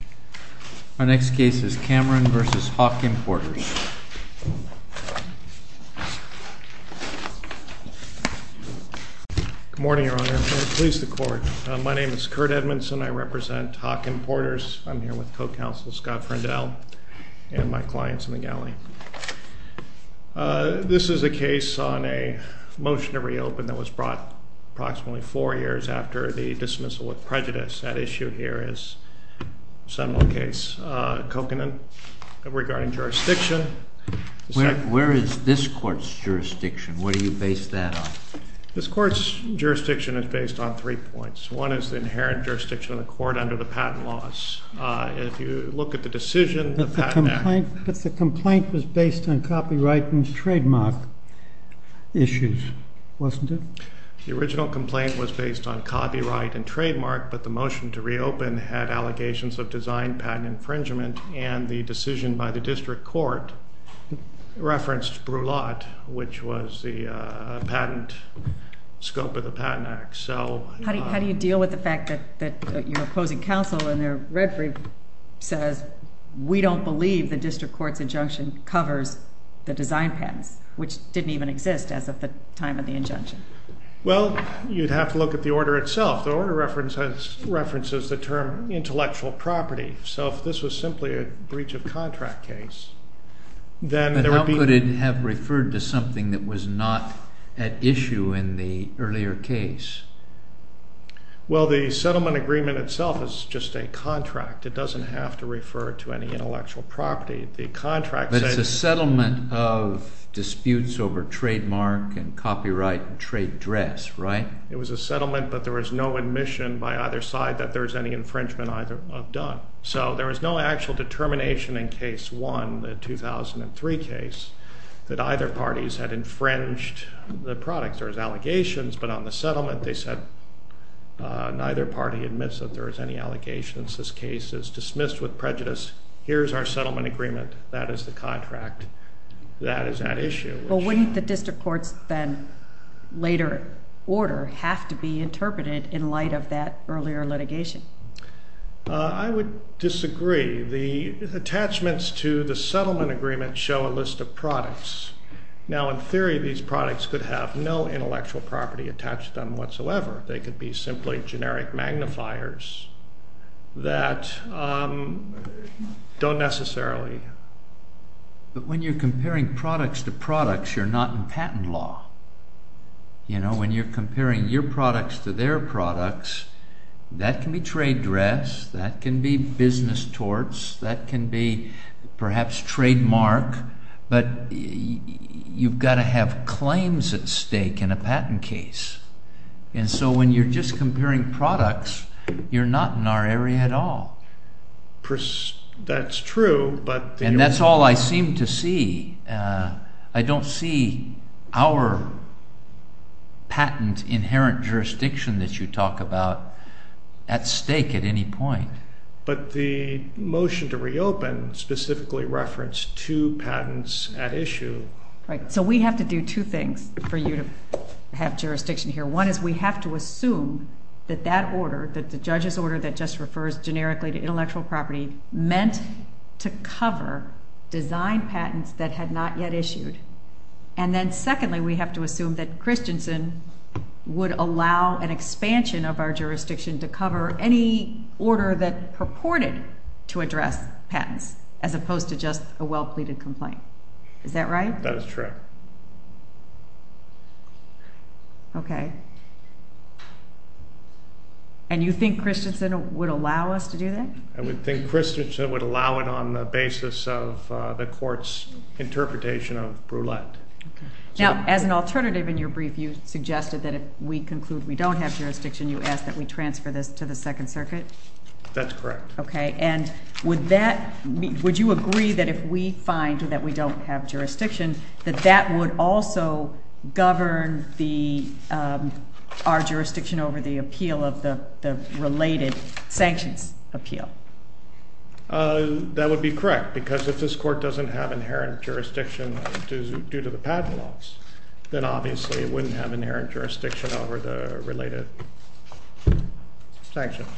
V. HAWK IMPORTERS Good morning, Your Honor. Please, the Court. My name is Kurt Edmondson. I represent Hawken Porters. I'm here with Co-Counsel Scott Pruendell and my clients in the galley. This is a case on a motion to reopen that was brought approximately four years after the dismissal with prejudice. That issue here is Seminole case, Kokanen, regarding jurisdiction. Where is this Court's jurisdiction? Where do you base that on? This Court's jurisdiction is based on three points. One is the inherent jurisdiction of the Court under the patent laws. If you look at the decision, the patent act… But the complaint was based on copyright and trademark issues, wasn't it? The original complaint was based on copyright and trademark, but the motion to reopen had allegations of design patent infringement and the decision by the district court referenced Brulat, which was the patent scope of the patent act. How do you deal with the fact that your opposing counsel and their referee says, we don't believe the district court's injunction covers the design patents, which didn't even exist as of the time of the injunction? Well, you'd have to look at the order itself. The order references the term intellectual property. So if this was simply a breach of contract case, then there would be… Well, the settlement agreement itself is just a contract. It doesn't have to refer to any intellectual property. The contract says… But it's a settlement of disputes over trademark and copyright and trade dress, right? It was a settlement, but there was no admission by either side that there was any infringement either of done. So there was no actual determination in case one, the 2003 case, that either parties had infringed the product. There was allegations, but on the settlement they said neither party admits that there was any allegations. This case is dismissed with prejudice. Here's our settlement agreement. That is the contract. That is at issue. Well, wouldn't the district court's then later order have to be interpreted in light of that earlier litigation? I would disagree. The attachments to the settlement agreement show a list of products. Now, in theory, these products could have no intellectual property attached to them whatsoever. They could be simply generic magnifiers that don't necessarily… But when you're comparing products to products, you're not in patent law. When you're comparing your products to their products, that can be trade dress, that can be business torts, that can be perhaps trademark, but you've got to have claims at stake in a patent case. And so when you're just comparing products, you're not in our area at all. That's true, but… That's all I seem to see. I don't see our patent inherent jurisdiction that you talk about at stake at any point. But the motion to reopen specifically referenced two patents at issue. Right. So we have to do two things for you to have jurisdiction here. One is we have to assume that that order, that the judge's order that just refers generically to intellectual property, meant to cover design patents that had not yet issued. And then secondly, we have to assume that Christensen would allow an expansion of our jurisdiction to cover any order that purported to address patents, as opposed to just a well-pleaded complaint. Is that right? That is true. Okay. And you think Christensen would allow us to do that? I would think Christensen would allow it on the basis of the court's interpretation of Brulette. Now, as an alternative in your brief, you suggested that if we conclude we don't have jurisdiction, you ask that we transfer this to the Second Circuit? That's correct. Okay. And would you agree that if we find that we don't have jurisdiction, that that would also govern our jurisdiction over the appeal of the related sanctions appeal? That would be correct, because if this court doesn't have inherent jurisdiction due to the patent laws, then obviously it wouldn't have inherent jurisdiction over the related sanctions.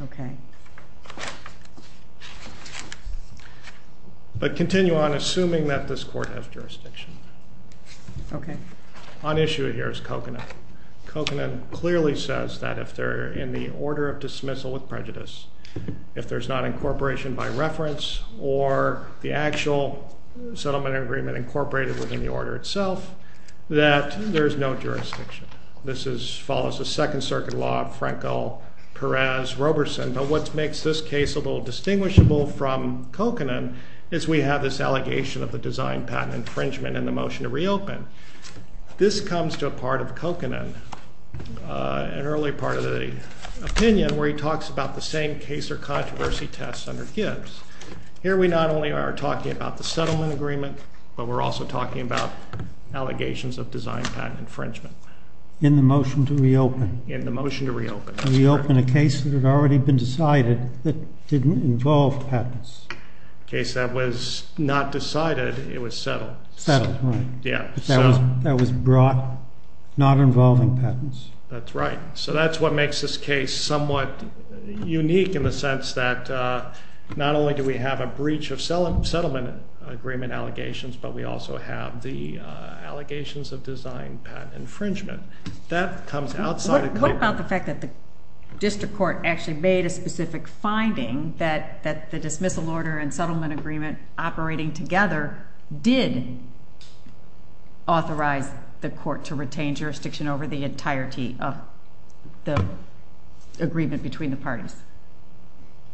Okay. But continue on assuming that this court has jurisdiction. Okay. On issue here is Kokanen. Kokanen clearly says that if they're in the order of dismissal with prejudice, if there's not incorporation by reference or the actual settlement agreement incorporated within the order itself, that there's no jurisdiction. This follows the Second Circuit law of Franco-Perez-Robertson. But what makes this case a little distinguishable from Kokanen is we have this allegation of a design patent infringement in the motion to reopen. This comes to a part of Kokanen, an early part of the opinion, where he talks about the same case or controversy test under Gibbs. Here we not only are talking about the settlement agreement, but we're also talking about allegations of design patent infringement. In the motion to reopen. In the motion to reopen. To reopen a case that had already been decided that didn't involve patents. A case that was not decided, it was settled. Settled, right. Yeah. That was brought not involving patents. That's right. So that's what makes this case somewhat unique in the sense that not only do we have a breach of settlement agreement allegations, but we also have the allegations of design patent infringement. What about the fact that the district court actually made a specific finding that the dismissal order and settlement agreement operating together did authorize the court to retain jurisdiction over the entirety of the agreement between the parties?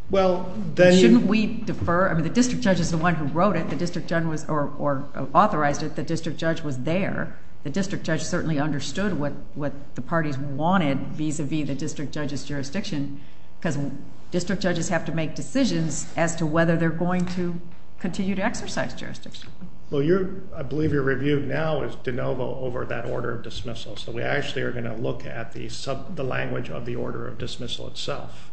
Well, then. Shouldn't we defer? I mean, the district judge is the one who wrote it. The district judge was or authorized it. The district judge was there. The district judge certainly understood what the parties wanted vis-a-vis the district judge's jurisdiction because district judges have to make decisions as to whether they're going to continue to exercise jurisdiction. Well, I believe your review now is de novo over that order of dismissal. So we actually are going to look at the language of the order of dismissal itself.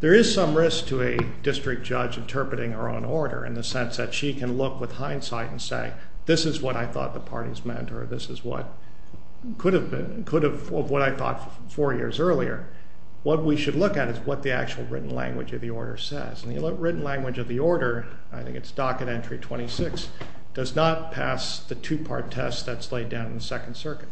There is some risk to a district judge interpreting her own order in the sense that she can look with hindsight and say, this is what I thought the parties meant or this is what could have been, could have, what I thought four years earlier. What we should look at is what the actual written language of the order says. And the written language of the order, I think it's docket entry 26, does not pass the two-part test that's laid down in the Second Circuit.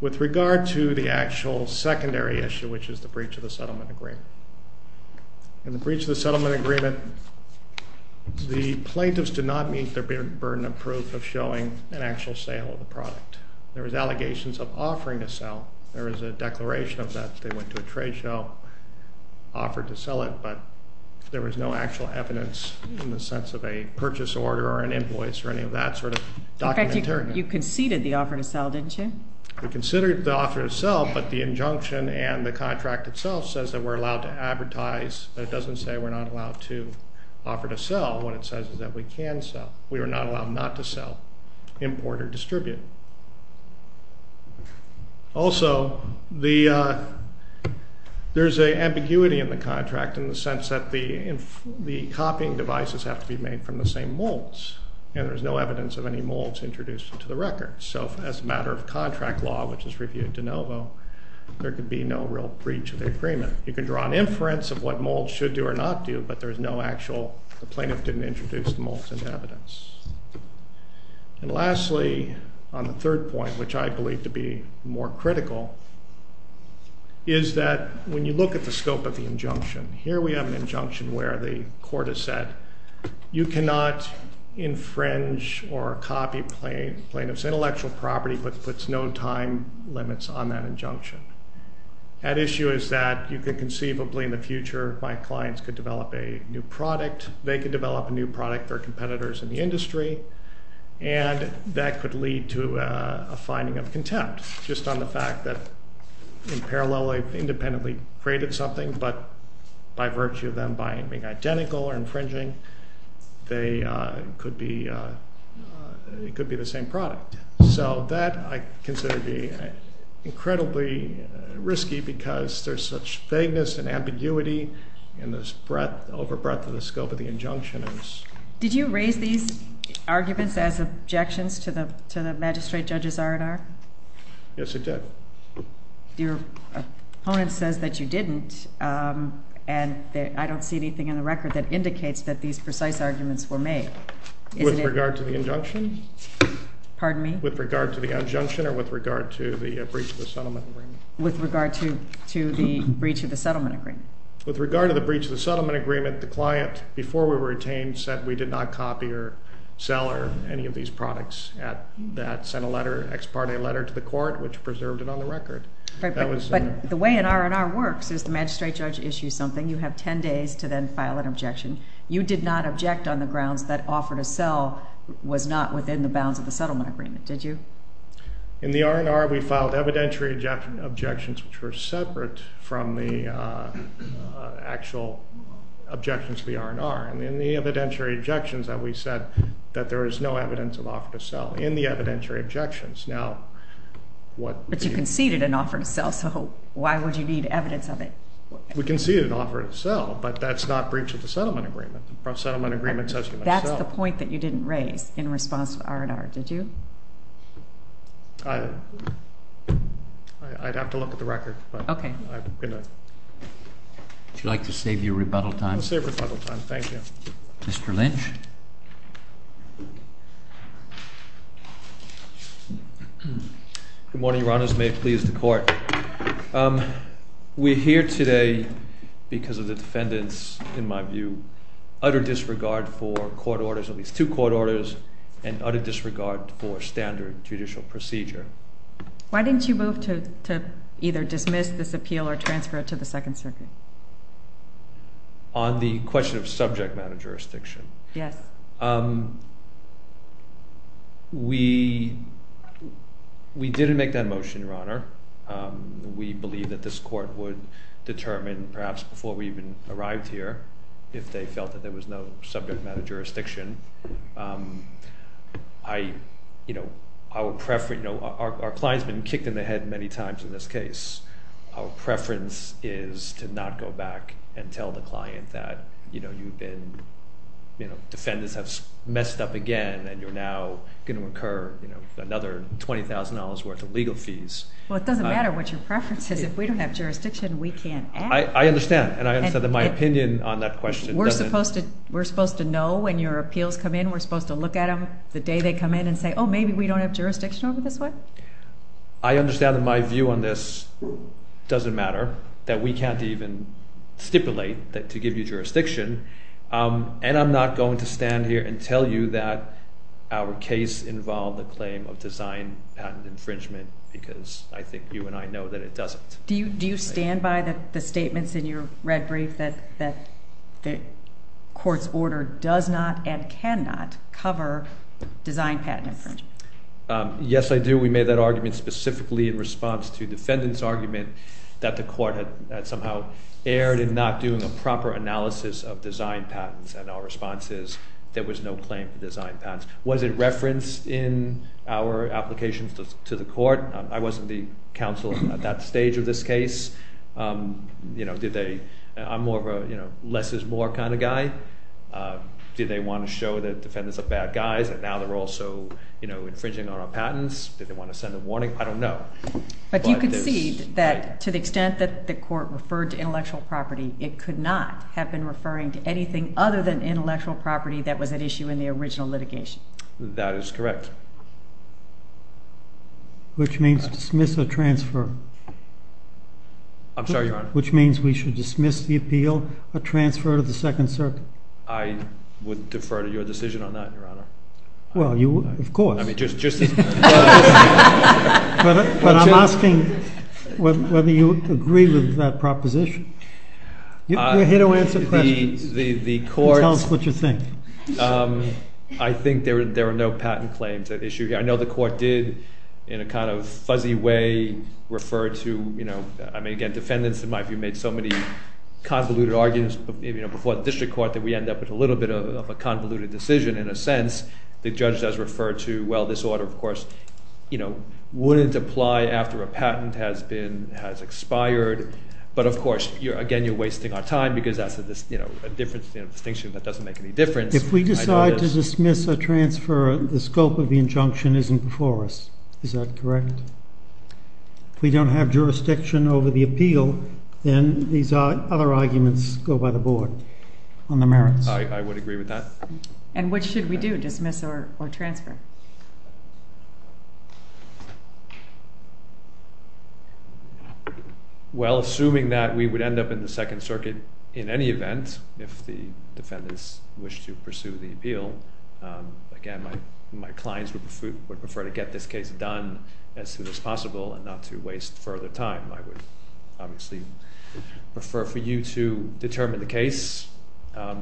With regard to the actual secondary issue, which is the breach of the settlement agreement. In the breach of the settlement agreement, the plaintiffs did not meet their burden of proof of showing an actual sale of the product. There was allegations of offering to sell. There is a declaration of that. They went to a trade show, offered to sell it, but there was no actual evidence in the sense of a purchase order or an invoice or any of that sort of docket entry. In fact, you conceded the offer to sell, didn't you? We conceded the offer to sell, but the injunction and the contract itself says that we're allowed to advertise. It doesn't say we're not allowed to offer to sell. What it says is that we can sell. We are not allowed not to sell, import, or distribute. Also, there's an ambiguity in the contract in the sense that the copying devices have to be made from the same molds. And there's no evidence of any molds introduced into the record. So as a matter of contract law, which is reviewed de novo, there could be no real breach of the agreement. You can draw an inference of what molds should do or not do, but the plaintiff didn't introduce the molds into evidence. And lastly, on the third point, which I believe to be more critical, is that when you look at the scope of the injunction, here we have an injunction where the court has said, you cannot infringe or copy plaintiff's intellectual property, but puts no time limits on that injunction. That issue is that you could conceivably in the future, my clients could develop a new product. They could develop a new product, their competitors in the industry, and that could lead to a finding of contempt just on the fact that in parallel they independently created something, but by virtue of them being identical or infringing, it could be the same product. So that I consider to be incredibly risky because there's such vagueness and ambiguity in the over breadth of the scope of the injunction. Did you raise these arguments as objections to the magistrate judge's R&R? Yes, I did. Your opponent says that you didn't, and I don't see anything in the record that indicates that these precise arguments were made. With regard to the injunction? Pardon me? With regard to the injunction or with regard to the breach of the settlement agreement? With regard to the breach of the settlement agreement. With regard to the breach of the settlement agreement, the client, before we were retained, said we did not copy or sell any of these products. That sent a letter, an ex parte letter to the court, which preserved it on the record. But the way an R&R works is the magistrate judge issues something, you have 10 days to then file an objection. You did not object on the grounds that offer to sell was not within the bounds of the settlement agreement, did you? In the R&R, we filed evidentiary objections, which were separate from the actual objections to the R&R. And in the evidentiary objections, we said that there is no evidence of offer to sell. In the evidentiary objections. But you conceded an offer to sell, so why would you need evidence of it? We conceded an offer to sell, but that's not breach of the settlement agreement. That's the point that you didn't raise in response to R&R, did you? I'd have to look at the record. Would you like to save your rebuttal time? I'll save rebuttal time, thank you. Mr. Lynch. We're here today because of the defendant's, in my view, utter disregard for court orders, at least two court orders, and utter disregard for standard judicial procedure. Why didn't you move to either dismiss this appeal or transfer it to the Second Circuit? On the question of subject matter jurisdiction? Yes. We didn't make that motion, Your Honor. We believe that this court would determine, perhaps before we even arrived here, if they felt that there was no subject matter jurisdiction. Our client's been kicked in the head many times in this case. Our preference is to not go back and tell the client that, you know, you've been, you know, defendants have messed up again, and you're now going to incur another $20,000 worth of legal fees. Well, it doesn't matter what your preference is. If we don't have jurisdiction, we can't act. I understand, and I understand that my opinion on that question doesn't... We're supposed to know when your appeals come in. We're supposed to look at them the day they come in and say, oh, maybe we don't have jurisdiction over this way? I understand that my view on this doesn't matter, that we can't even stipulate to give you jurisdiction, and I'm not going to stand here and tell you that our case involved the claim of design patent infringement because I think you and I know that it doesn't. Do you stand by the statements in your red brief that the court's order does not and cannot cover design patent infringement? Yes, I do. We made that argument specifically in response to defendant's argument that the court had somehow erred in not doing a proper analysis of design patents, and our response is there was no claim for design patents. Was it referenced in our application to the court? I wasn't the counsel at that stage of this case. You know, did they... I'm more of a, you know, less is more kind of guy. Did they want to show that defendants are bad guys and now they're also, you know, infringing on our patents? Did they want to send a warning? I don't know. But you could see that to the extent that the court referred to intellectual property, it could not have been referring to anything other than intellectual property that was at issue in the original litigation. That is correct. Which means dismiss or transfer? I'm sorry, Your Honor? Which means we should dismiss the appeal or transfer to the Second Circuit? I would defer to your decision on that, Your Honor. Well, you... of course. I mean, just... But I'm asking whether you agree with that proposition. You're here to answer questions. The court... Tell us what you think. I think there are no patent claims at issue here. I know the court did, in a kind of fuzzy way, refer to, you know... I mean, again, defendants, in my view, made so many convoluted arguments before the district court that we end up with a little bit of a convoluted decision in a sense. The judge does refer to, well, this order, of course, you know, wouldn't apply after a patent has been... has expired. But, of course, again, you're wasting our time because that's a distinction that doesn't make any difference. If we decide to dismiss or transfer, the scope of the injunction isn't before us. Is that correct? If we don't have jurisdiction over the appeal, then these other arguments go by the board on the merits. I would agree with that. And what should we do, dismiss or transfer? Well, assuming that we would end up in the Second Circuit in any event, if the defendants wish to pursue the appeal, again, my clients would prefer to get this case done as soon as possible and not to waste further time. I would obviously prefer for you to determine the case. I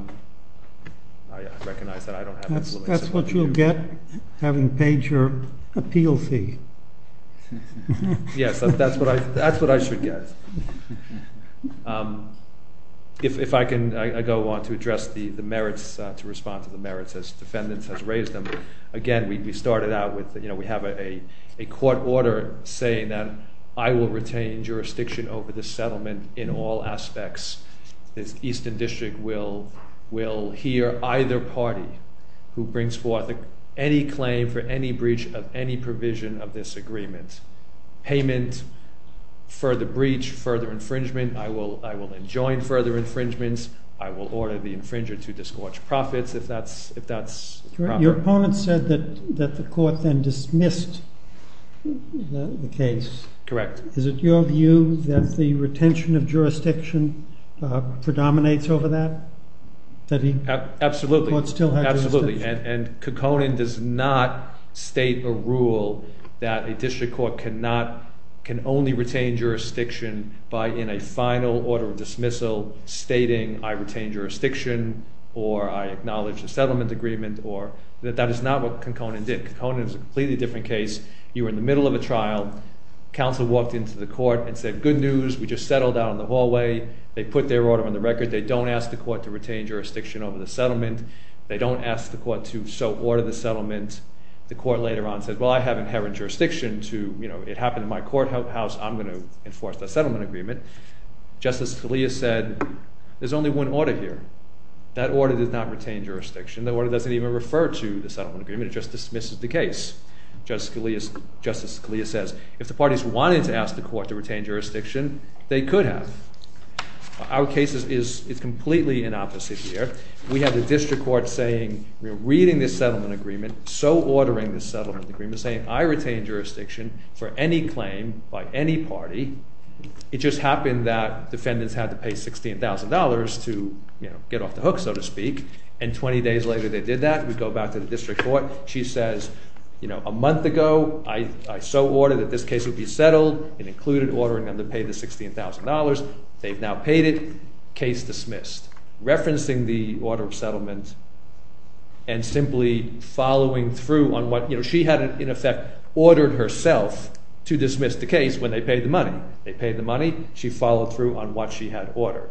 recognize that I don't have... That's what you'll get having paid your appeal fee. Yes, that's what I should get. If I can, I go on to address the merits, to respond to the merits as defendants have raised them. Again, we started out with, you know, we have a court order saying that I will retain jurisdiction over the settlement in all aspects. The Eastern District will hear either party who brings forth any claim for any breach of any provision of this agreement. Payment, further breach, further infringement. I will enjoin further infringements. I will order the infringer to disgorge profits if that's proper. Your opponent said that the court then dismissed the case. Correct. Is it your view that the retention of jurisdiction predominates over that? Absolutely. The court still has jurisdiction. Absolutely. And Konkonen does not state a rule that a district court cannot... can only retain jurisdiction by in a final order of dismissal stating I retain jurisdiction or I acknowledge the settlement agreement or... That is not what Konkonen did. Konkonen is a completely different case. You were in the middle of a trial. Counsel walked into the court and said, good news. We just settled down in the hallway. They put their order on the record. They don't ask the court to retain jurisdiction over the settlement. They don't ask the court to so order the settlement. The court later on said, well, I have inherent jurisdiction to, you know, it happened in my courthouse. I'm going to enforce the settlement agreement. Justice Scalia said, there's only one order here. That order did not retain jurisdiction. The order doesn't even refer to the settlement agreement. It just dismisses the case. Justice Scalia says, if the parties wanted to ask the court to retain jurisdiction, they could have. Our case is completely in opposite here. We have the district court saying, you know, reading this settlement agreement, so ordering this settlement agreement, saying I retain jurisdiction for any claim by any party. It just happened that defendants had to pay $16,000 to, you know, get off the hook so to speak. And 20 days later they did that. We go back to the district court. She says, you know, a month ago I so ordered that this case would be settled. It included ordering them to pay the $16,000. They've now paid it. Case dismissed. Referencing the order of settlement and simply following through on what, you know, she had in effect ordered herself to dismiss the case when they paid the money. They paid the money. She followed through on what she had ordered.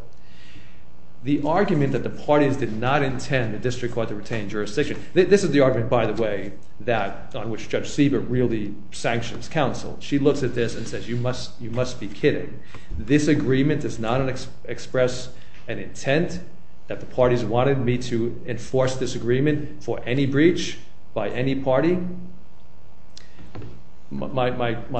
The argument that the parties did not intend the district court to retain jurisdiction, this is the argument, by the way, that on which Judge Siebert really sanctions counsel. She looks at this and says, you must be kidding. This agreement does not express an intent that the parties wanted me to enforce this agreement for any breach by any party? My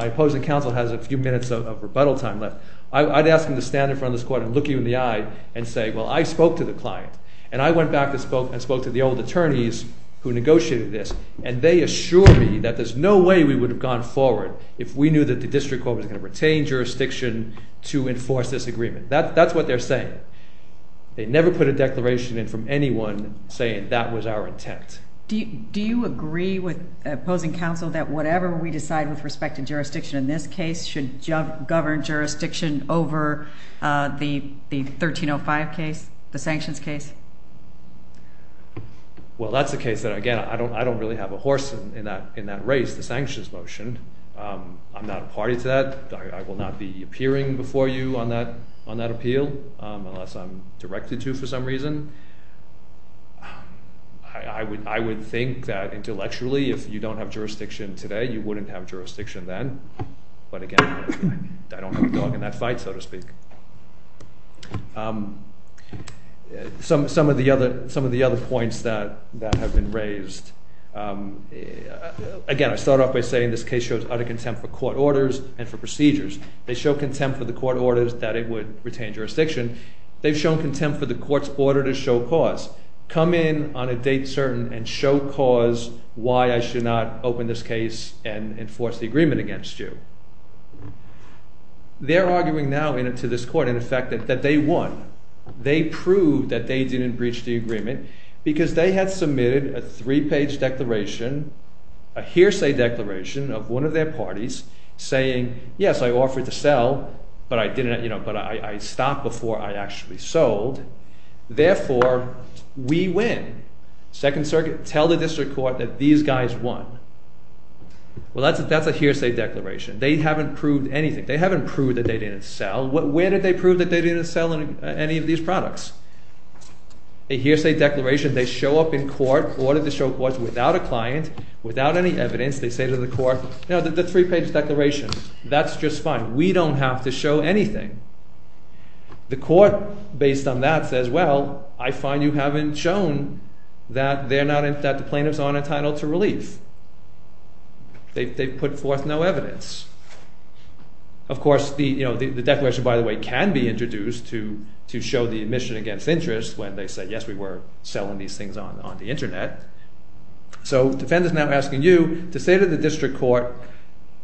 opposing counsel has a few minutes of rebuttal time left. I'd ask him to stand in front of this court and look you in the eye and say, well, I spoke to the client. And I went back and spoke to the old attorneys who negotiated this. And they assured me that there's no way we would have gone forward if we knew that the district court was going to retain jurisdiction to enforce this agreement. That's what they're saying. They never put a declaration in from anyone saying that was our intent. Do you agree with opposing counsel that whatever we decide with respect to jurisdiction in this case should govern jurisdiction over the 1305 case, the sanctions case? Well, that's a case that, again, I don't really have a horse in that race, the sanctions motion. I'm not a party to that. I will not be appearing before you on that appeal unless I'm directed to for some reason. I would think that intellectually, if you don't have jurisdiction today, you wouldn't have jurisdiction then. But, again, I don't have a dog in that fight, so to speak. Some of the other points that have been raised. Again, I start off by saying this case shows utter contempt for court orders and for procedures. They show contempt for the court orders that it would retain jurisdiction. They've shown contempt for the court's order to show cause. Come in on a date certain and show cause why I should not open this case and enforce the agreement against you. They're arguing now to this court, in effect, that they won. They proved that they didn't breach the agreement because they had submitted a three-page declaration, a hearsay declaration of one of their parties saying, yes, I offered to sell, but I stopped before I actually sold. Therefore, we win. Second Circuit, tell the district court that these guys won. Well, that's a hearsay declaration. They haven't proved anything. They haven't proved that they didn't sell. Where did they prove that they didn't sell any of these products? A hearsay declaration. They show up in court, order to show cause without a client, without any evidence. They say to the court, you know, the three-page declaration. That's just fine. We don't have to show anything. The court, based on that, says, well, I find you haven't shown that the plaintiffs aren't entitled to relief. They've put forth no evidence. Of course, the declaration, by the way, can be introduced to show the admission against interest when they say, yes, we were selling these things on the Internet. So defendants are now asking you to say to the district court,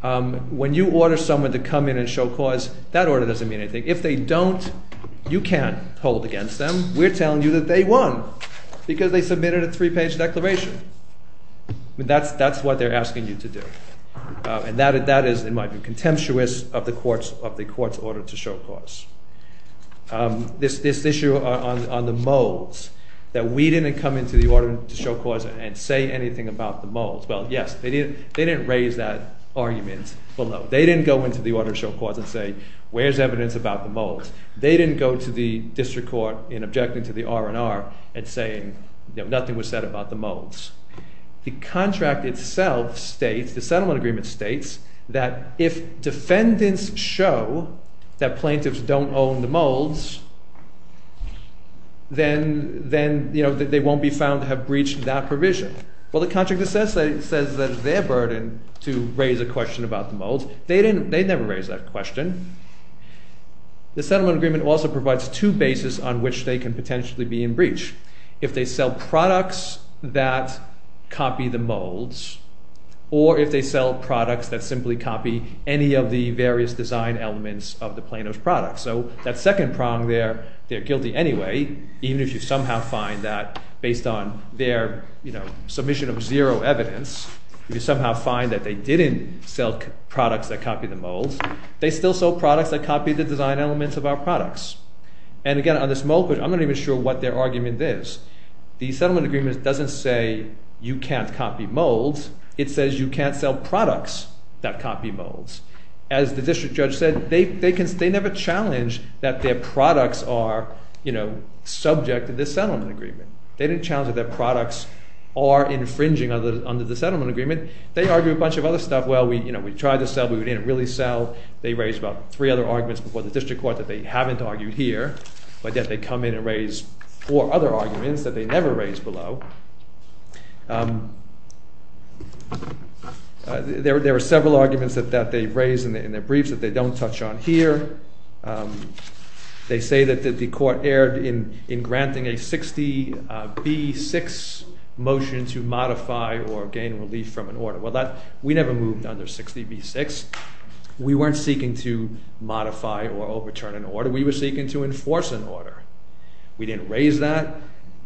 when you order someone to come in and show cause, that order doesn't mean anything. If they don't, you can't hold against them. We're telling you that they won because they submitted a three-page declaration. That's what they're asking you to do. And that is, in my view, contemptuous of the court's order to show cause. This issue on the molds, that we didn't come into the order to show cause and say anything about the molds. Well, yes, they didn't raise that argument. Well, no, they didn't go into the order to show cause and say, where's evidence about the molds? They didn't go to the district court in objecting to the R&R and saying nothing was said about the molds. The contract itself states, the settlement agreement states, that if defendants show that plaintiffs don't own the molds, then they won't be found to have breached that provision. Well, the contract says that it's their burden to raise a question about the molds. They never raised that question. The settlement agreement also provides two bases on which they can potentially be in breach. If they sell products that copy the molds or if they sell products that simply copy any of the various design elements of the plaintiff's products. So, that second prong there, they're guilty anyway, even if you somehow find that based on their submission of zero evidence, if you somehow find that they didn't sell products that copy the molds, they still sell products that copy the design elements of our products. And again, on this mold question, I'm not even sure what their argument is. The settlement agreement doesn't say you can't copy molds. It says you can't sell products that copy molds. As the district judge said, they never challenged that their products are subject to this settlement agreement. They didn't challenge that their products are infringing under the settlement agreement. They argue a bunch of other stuff. Well, we tried to sell, but we didn't really sell. They raised about three other arguments before the district court that they haven't argued here, but yet they come in and raise four other arguments that they never raised below. There were several arguments that they raised in their briefs that they don't touch on here. They say that the court erred in granting a 60B6 motion to modify or gain relief from an order. Well, we never moved under 60B6. We weren't seeking to modify or overturn an order. We were seeking to enforce an order. We didn't raise that.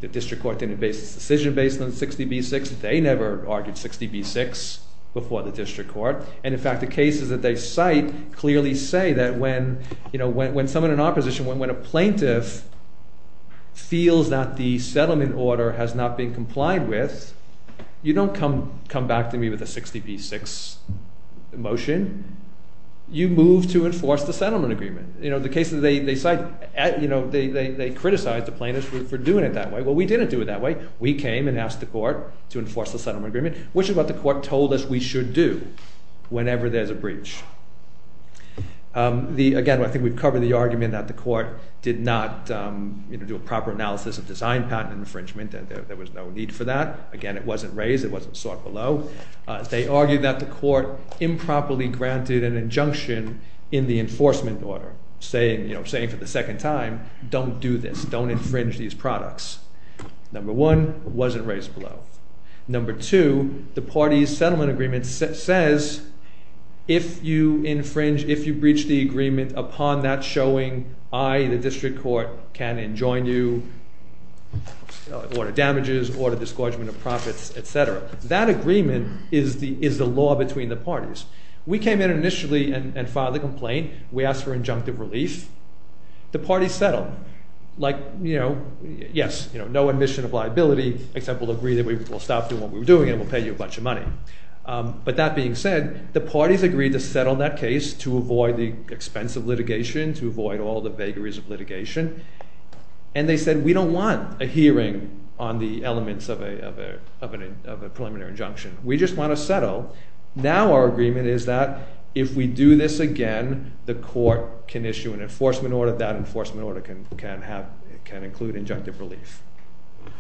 The district court didn't base its decision based on 60B6. They never argued 60B6 before the district court. And in fact, the cases that they cite clearly say that when someone in opposition, when a plaintiff feels that the settlement order has not been complied with, you don't come back to me with a 60B6 motion. You move to enforce the settlement agreement. The cases they cite, they criticize the plaintiffs for doing it that way. Well, we didn't do it that way. We came and asked the court to enforce the settlement agreement, which is what the court told us we should do whenever there's a breach. Again, I think we've covered the argument that the court did not do a proper analysis of design patent infringement. There was no need for that. Again, it wasn't raised. It wasn't sought below. They argued that the court improperly granted an injunction in the enforcement order, saying for the second time, don't do this. Don't infringe these products. Number one, it wasn't raised below. Number two, the party's settlement agreement says if you infringe, if you breach the agreement upon that showing, I, the district court, can enjoin you, order damages, order disgorgement of profits, etc. That agreement is the law between the parties. We came in initially and filed a complaint. We asked for injunctive relief. The parties settled. Like, you know, yes, no admission of liability, except we'll agree that we will stop doing what we were doing and we'll pay you a bunch of money. But that being said, the parties agreed to settle that case to avoid the expense of litigation, to avoid all the vagaries of litigation, and they said we don't want a hearing on the elements of a preliminary injunction. We just want to settle. Now our agreement is that if we do this again, the court can issue an enforcement order. That enforcement order can include injunctive relief.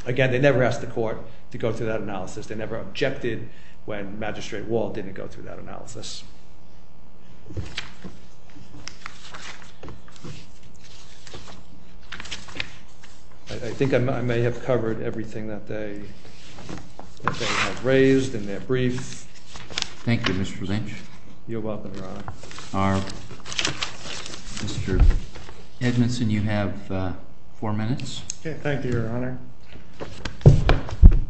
Again, they never asked the court to go through that analysis. They never objected when Magistrate Wall didn't go through that analysis. I think I may have covered everything that they have raised in their brief. Thank you, Mr. Lynch. You're welcome, Your Honor. Mr. Edmondson, you have four minutes. Thank you, Your Honor.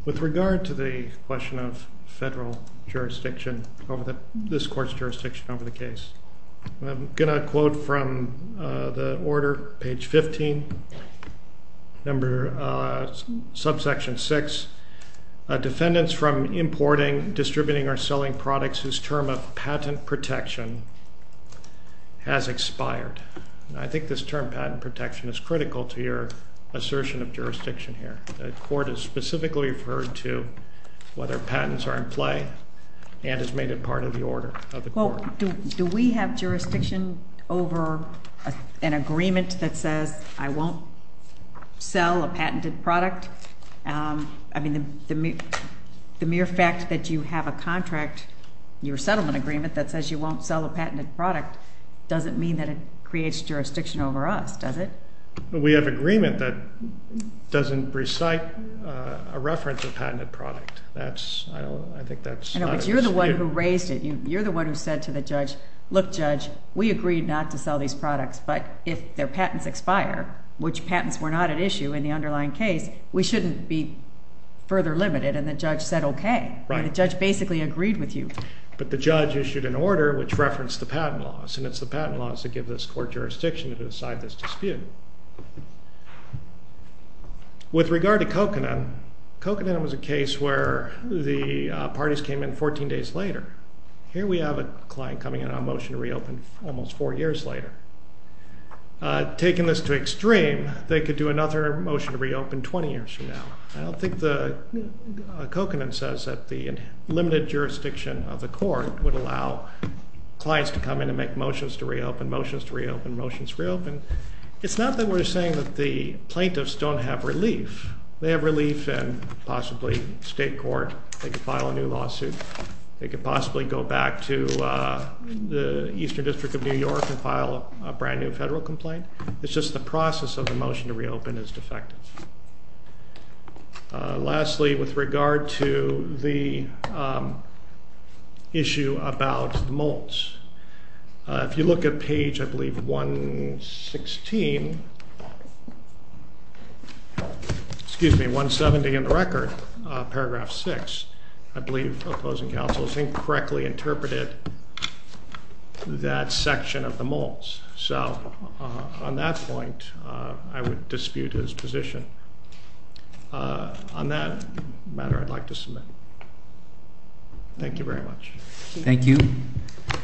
With regard to the question of federal jurisdiction over this court's jurisdiction over the case, I'm going to quote from the order, page 15, number subsection 6. Defendants from importing, distributing, or selling products whose term of patent protection has expired. I think this term, patent protection, is critical to your assertion of jurisdiction here. The court is specifically referred to whether patents are in play and has made it part of the order of the court. Well, do we have jurisdiction over an agreement that says I won't sell a patented product? I mean, the mere fact that you have a contract, your settlement agreement, that says you won't sell a patented product doesn't mean that it creates jurisdiction over us, does it? We have agreement that doesn't recite a reference of patented product. I think that's not a dispute. But you're the one who raised it. You're the one who said to the judge, look, judge, we agreed not to sell these products, but if their patents expire, which patents were not at issue in the underlying case, we shouldn't be further limited, and the judge said okay. The judge basically agreed with you. But the judge issued an order which referenced the patent laws, and it's the patent laws that give this court jurisdiction to decide this dispute. With regard to Coconin, Coconin was a case where the parties came in 14 days later. Here we have a client coming in on a motion to reopen almost four years later. Taking this to extreme, they could do another motion to reopen 20 years from now. I don't think the Coconin says that the limited jurisdiction of the court would allow clients to come in and make motions to reopen, motions to reopen, motions to reopen. It's not that we're saying that the plaintiffs don't have relief. They have relief in possibly state court. They could file a new lawsuit. They could possibly go back to the Eastern District of New York and file a brand-new federal complaint. It's just the process of the motion to reopen is defective. Lastly, with regard to the issue about the Moults, if you look at page, I believe, 116, excuse me, 170 in the record, paragraph 6, I believe opposing counsel has incorrectly interpreted that section of the Moults. So on that point, I would dispute his position. On that matter, I'd like to submit. Thank you very much. Thank you.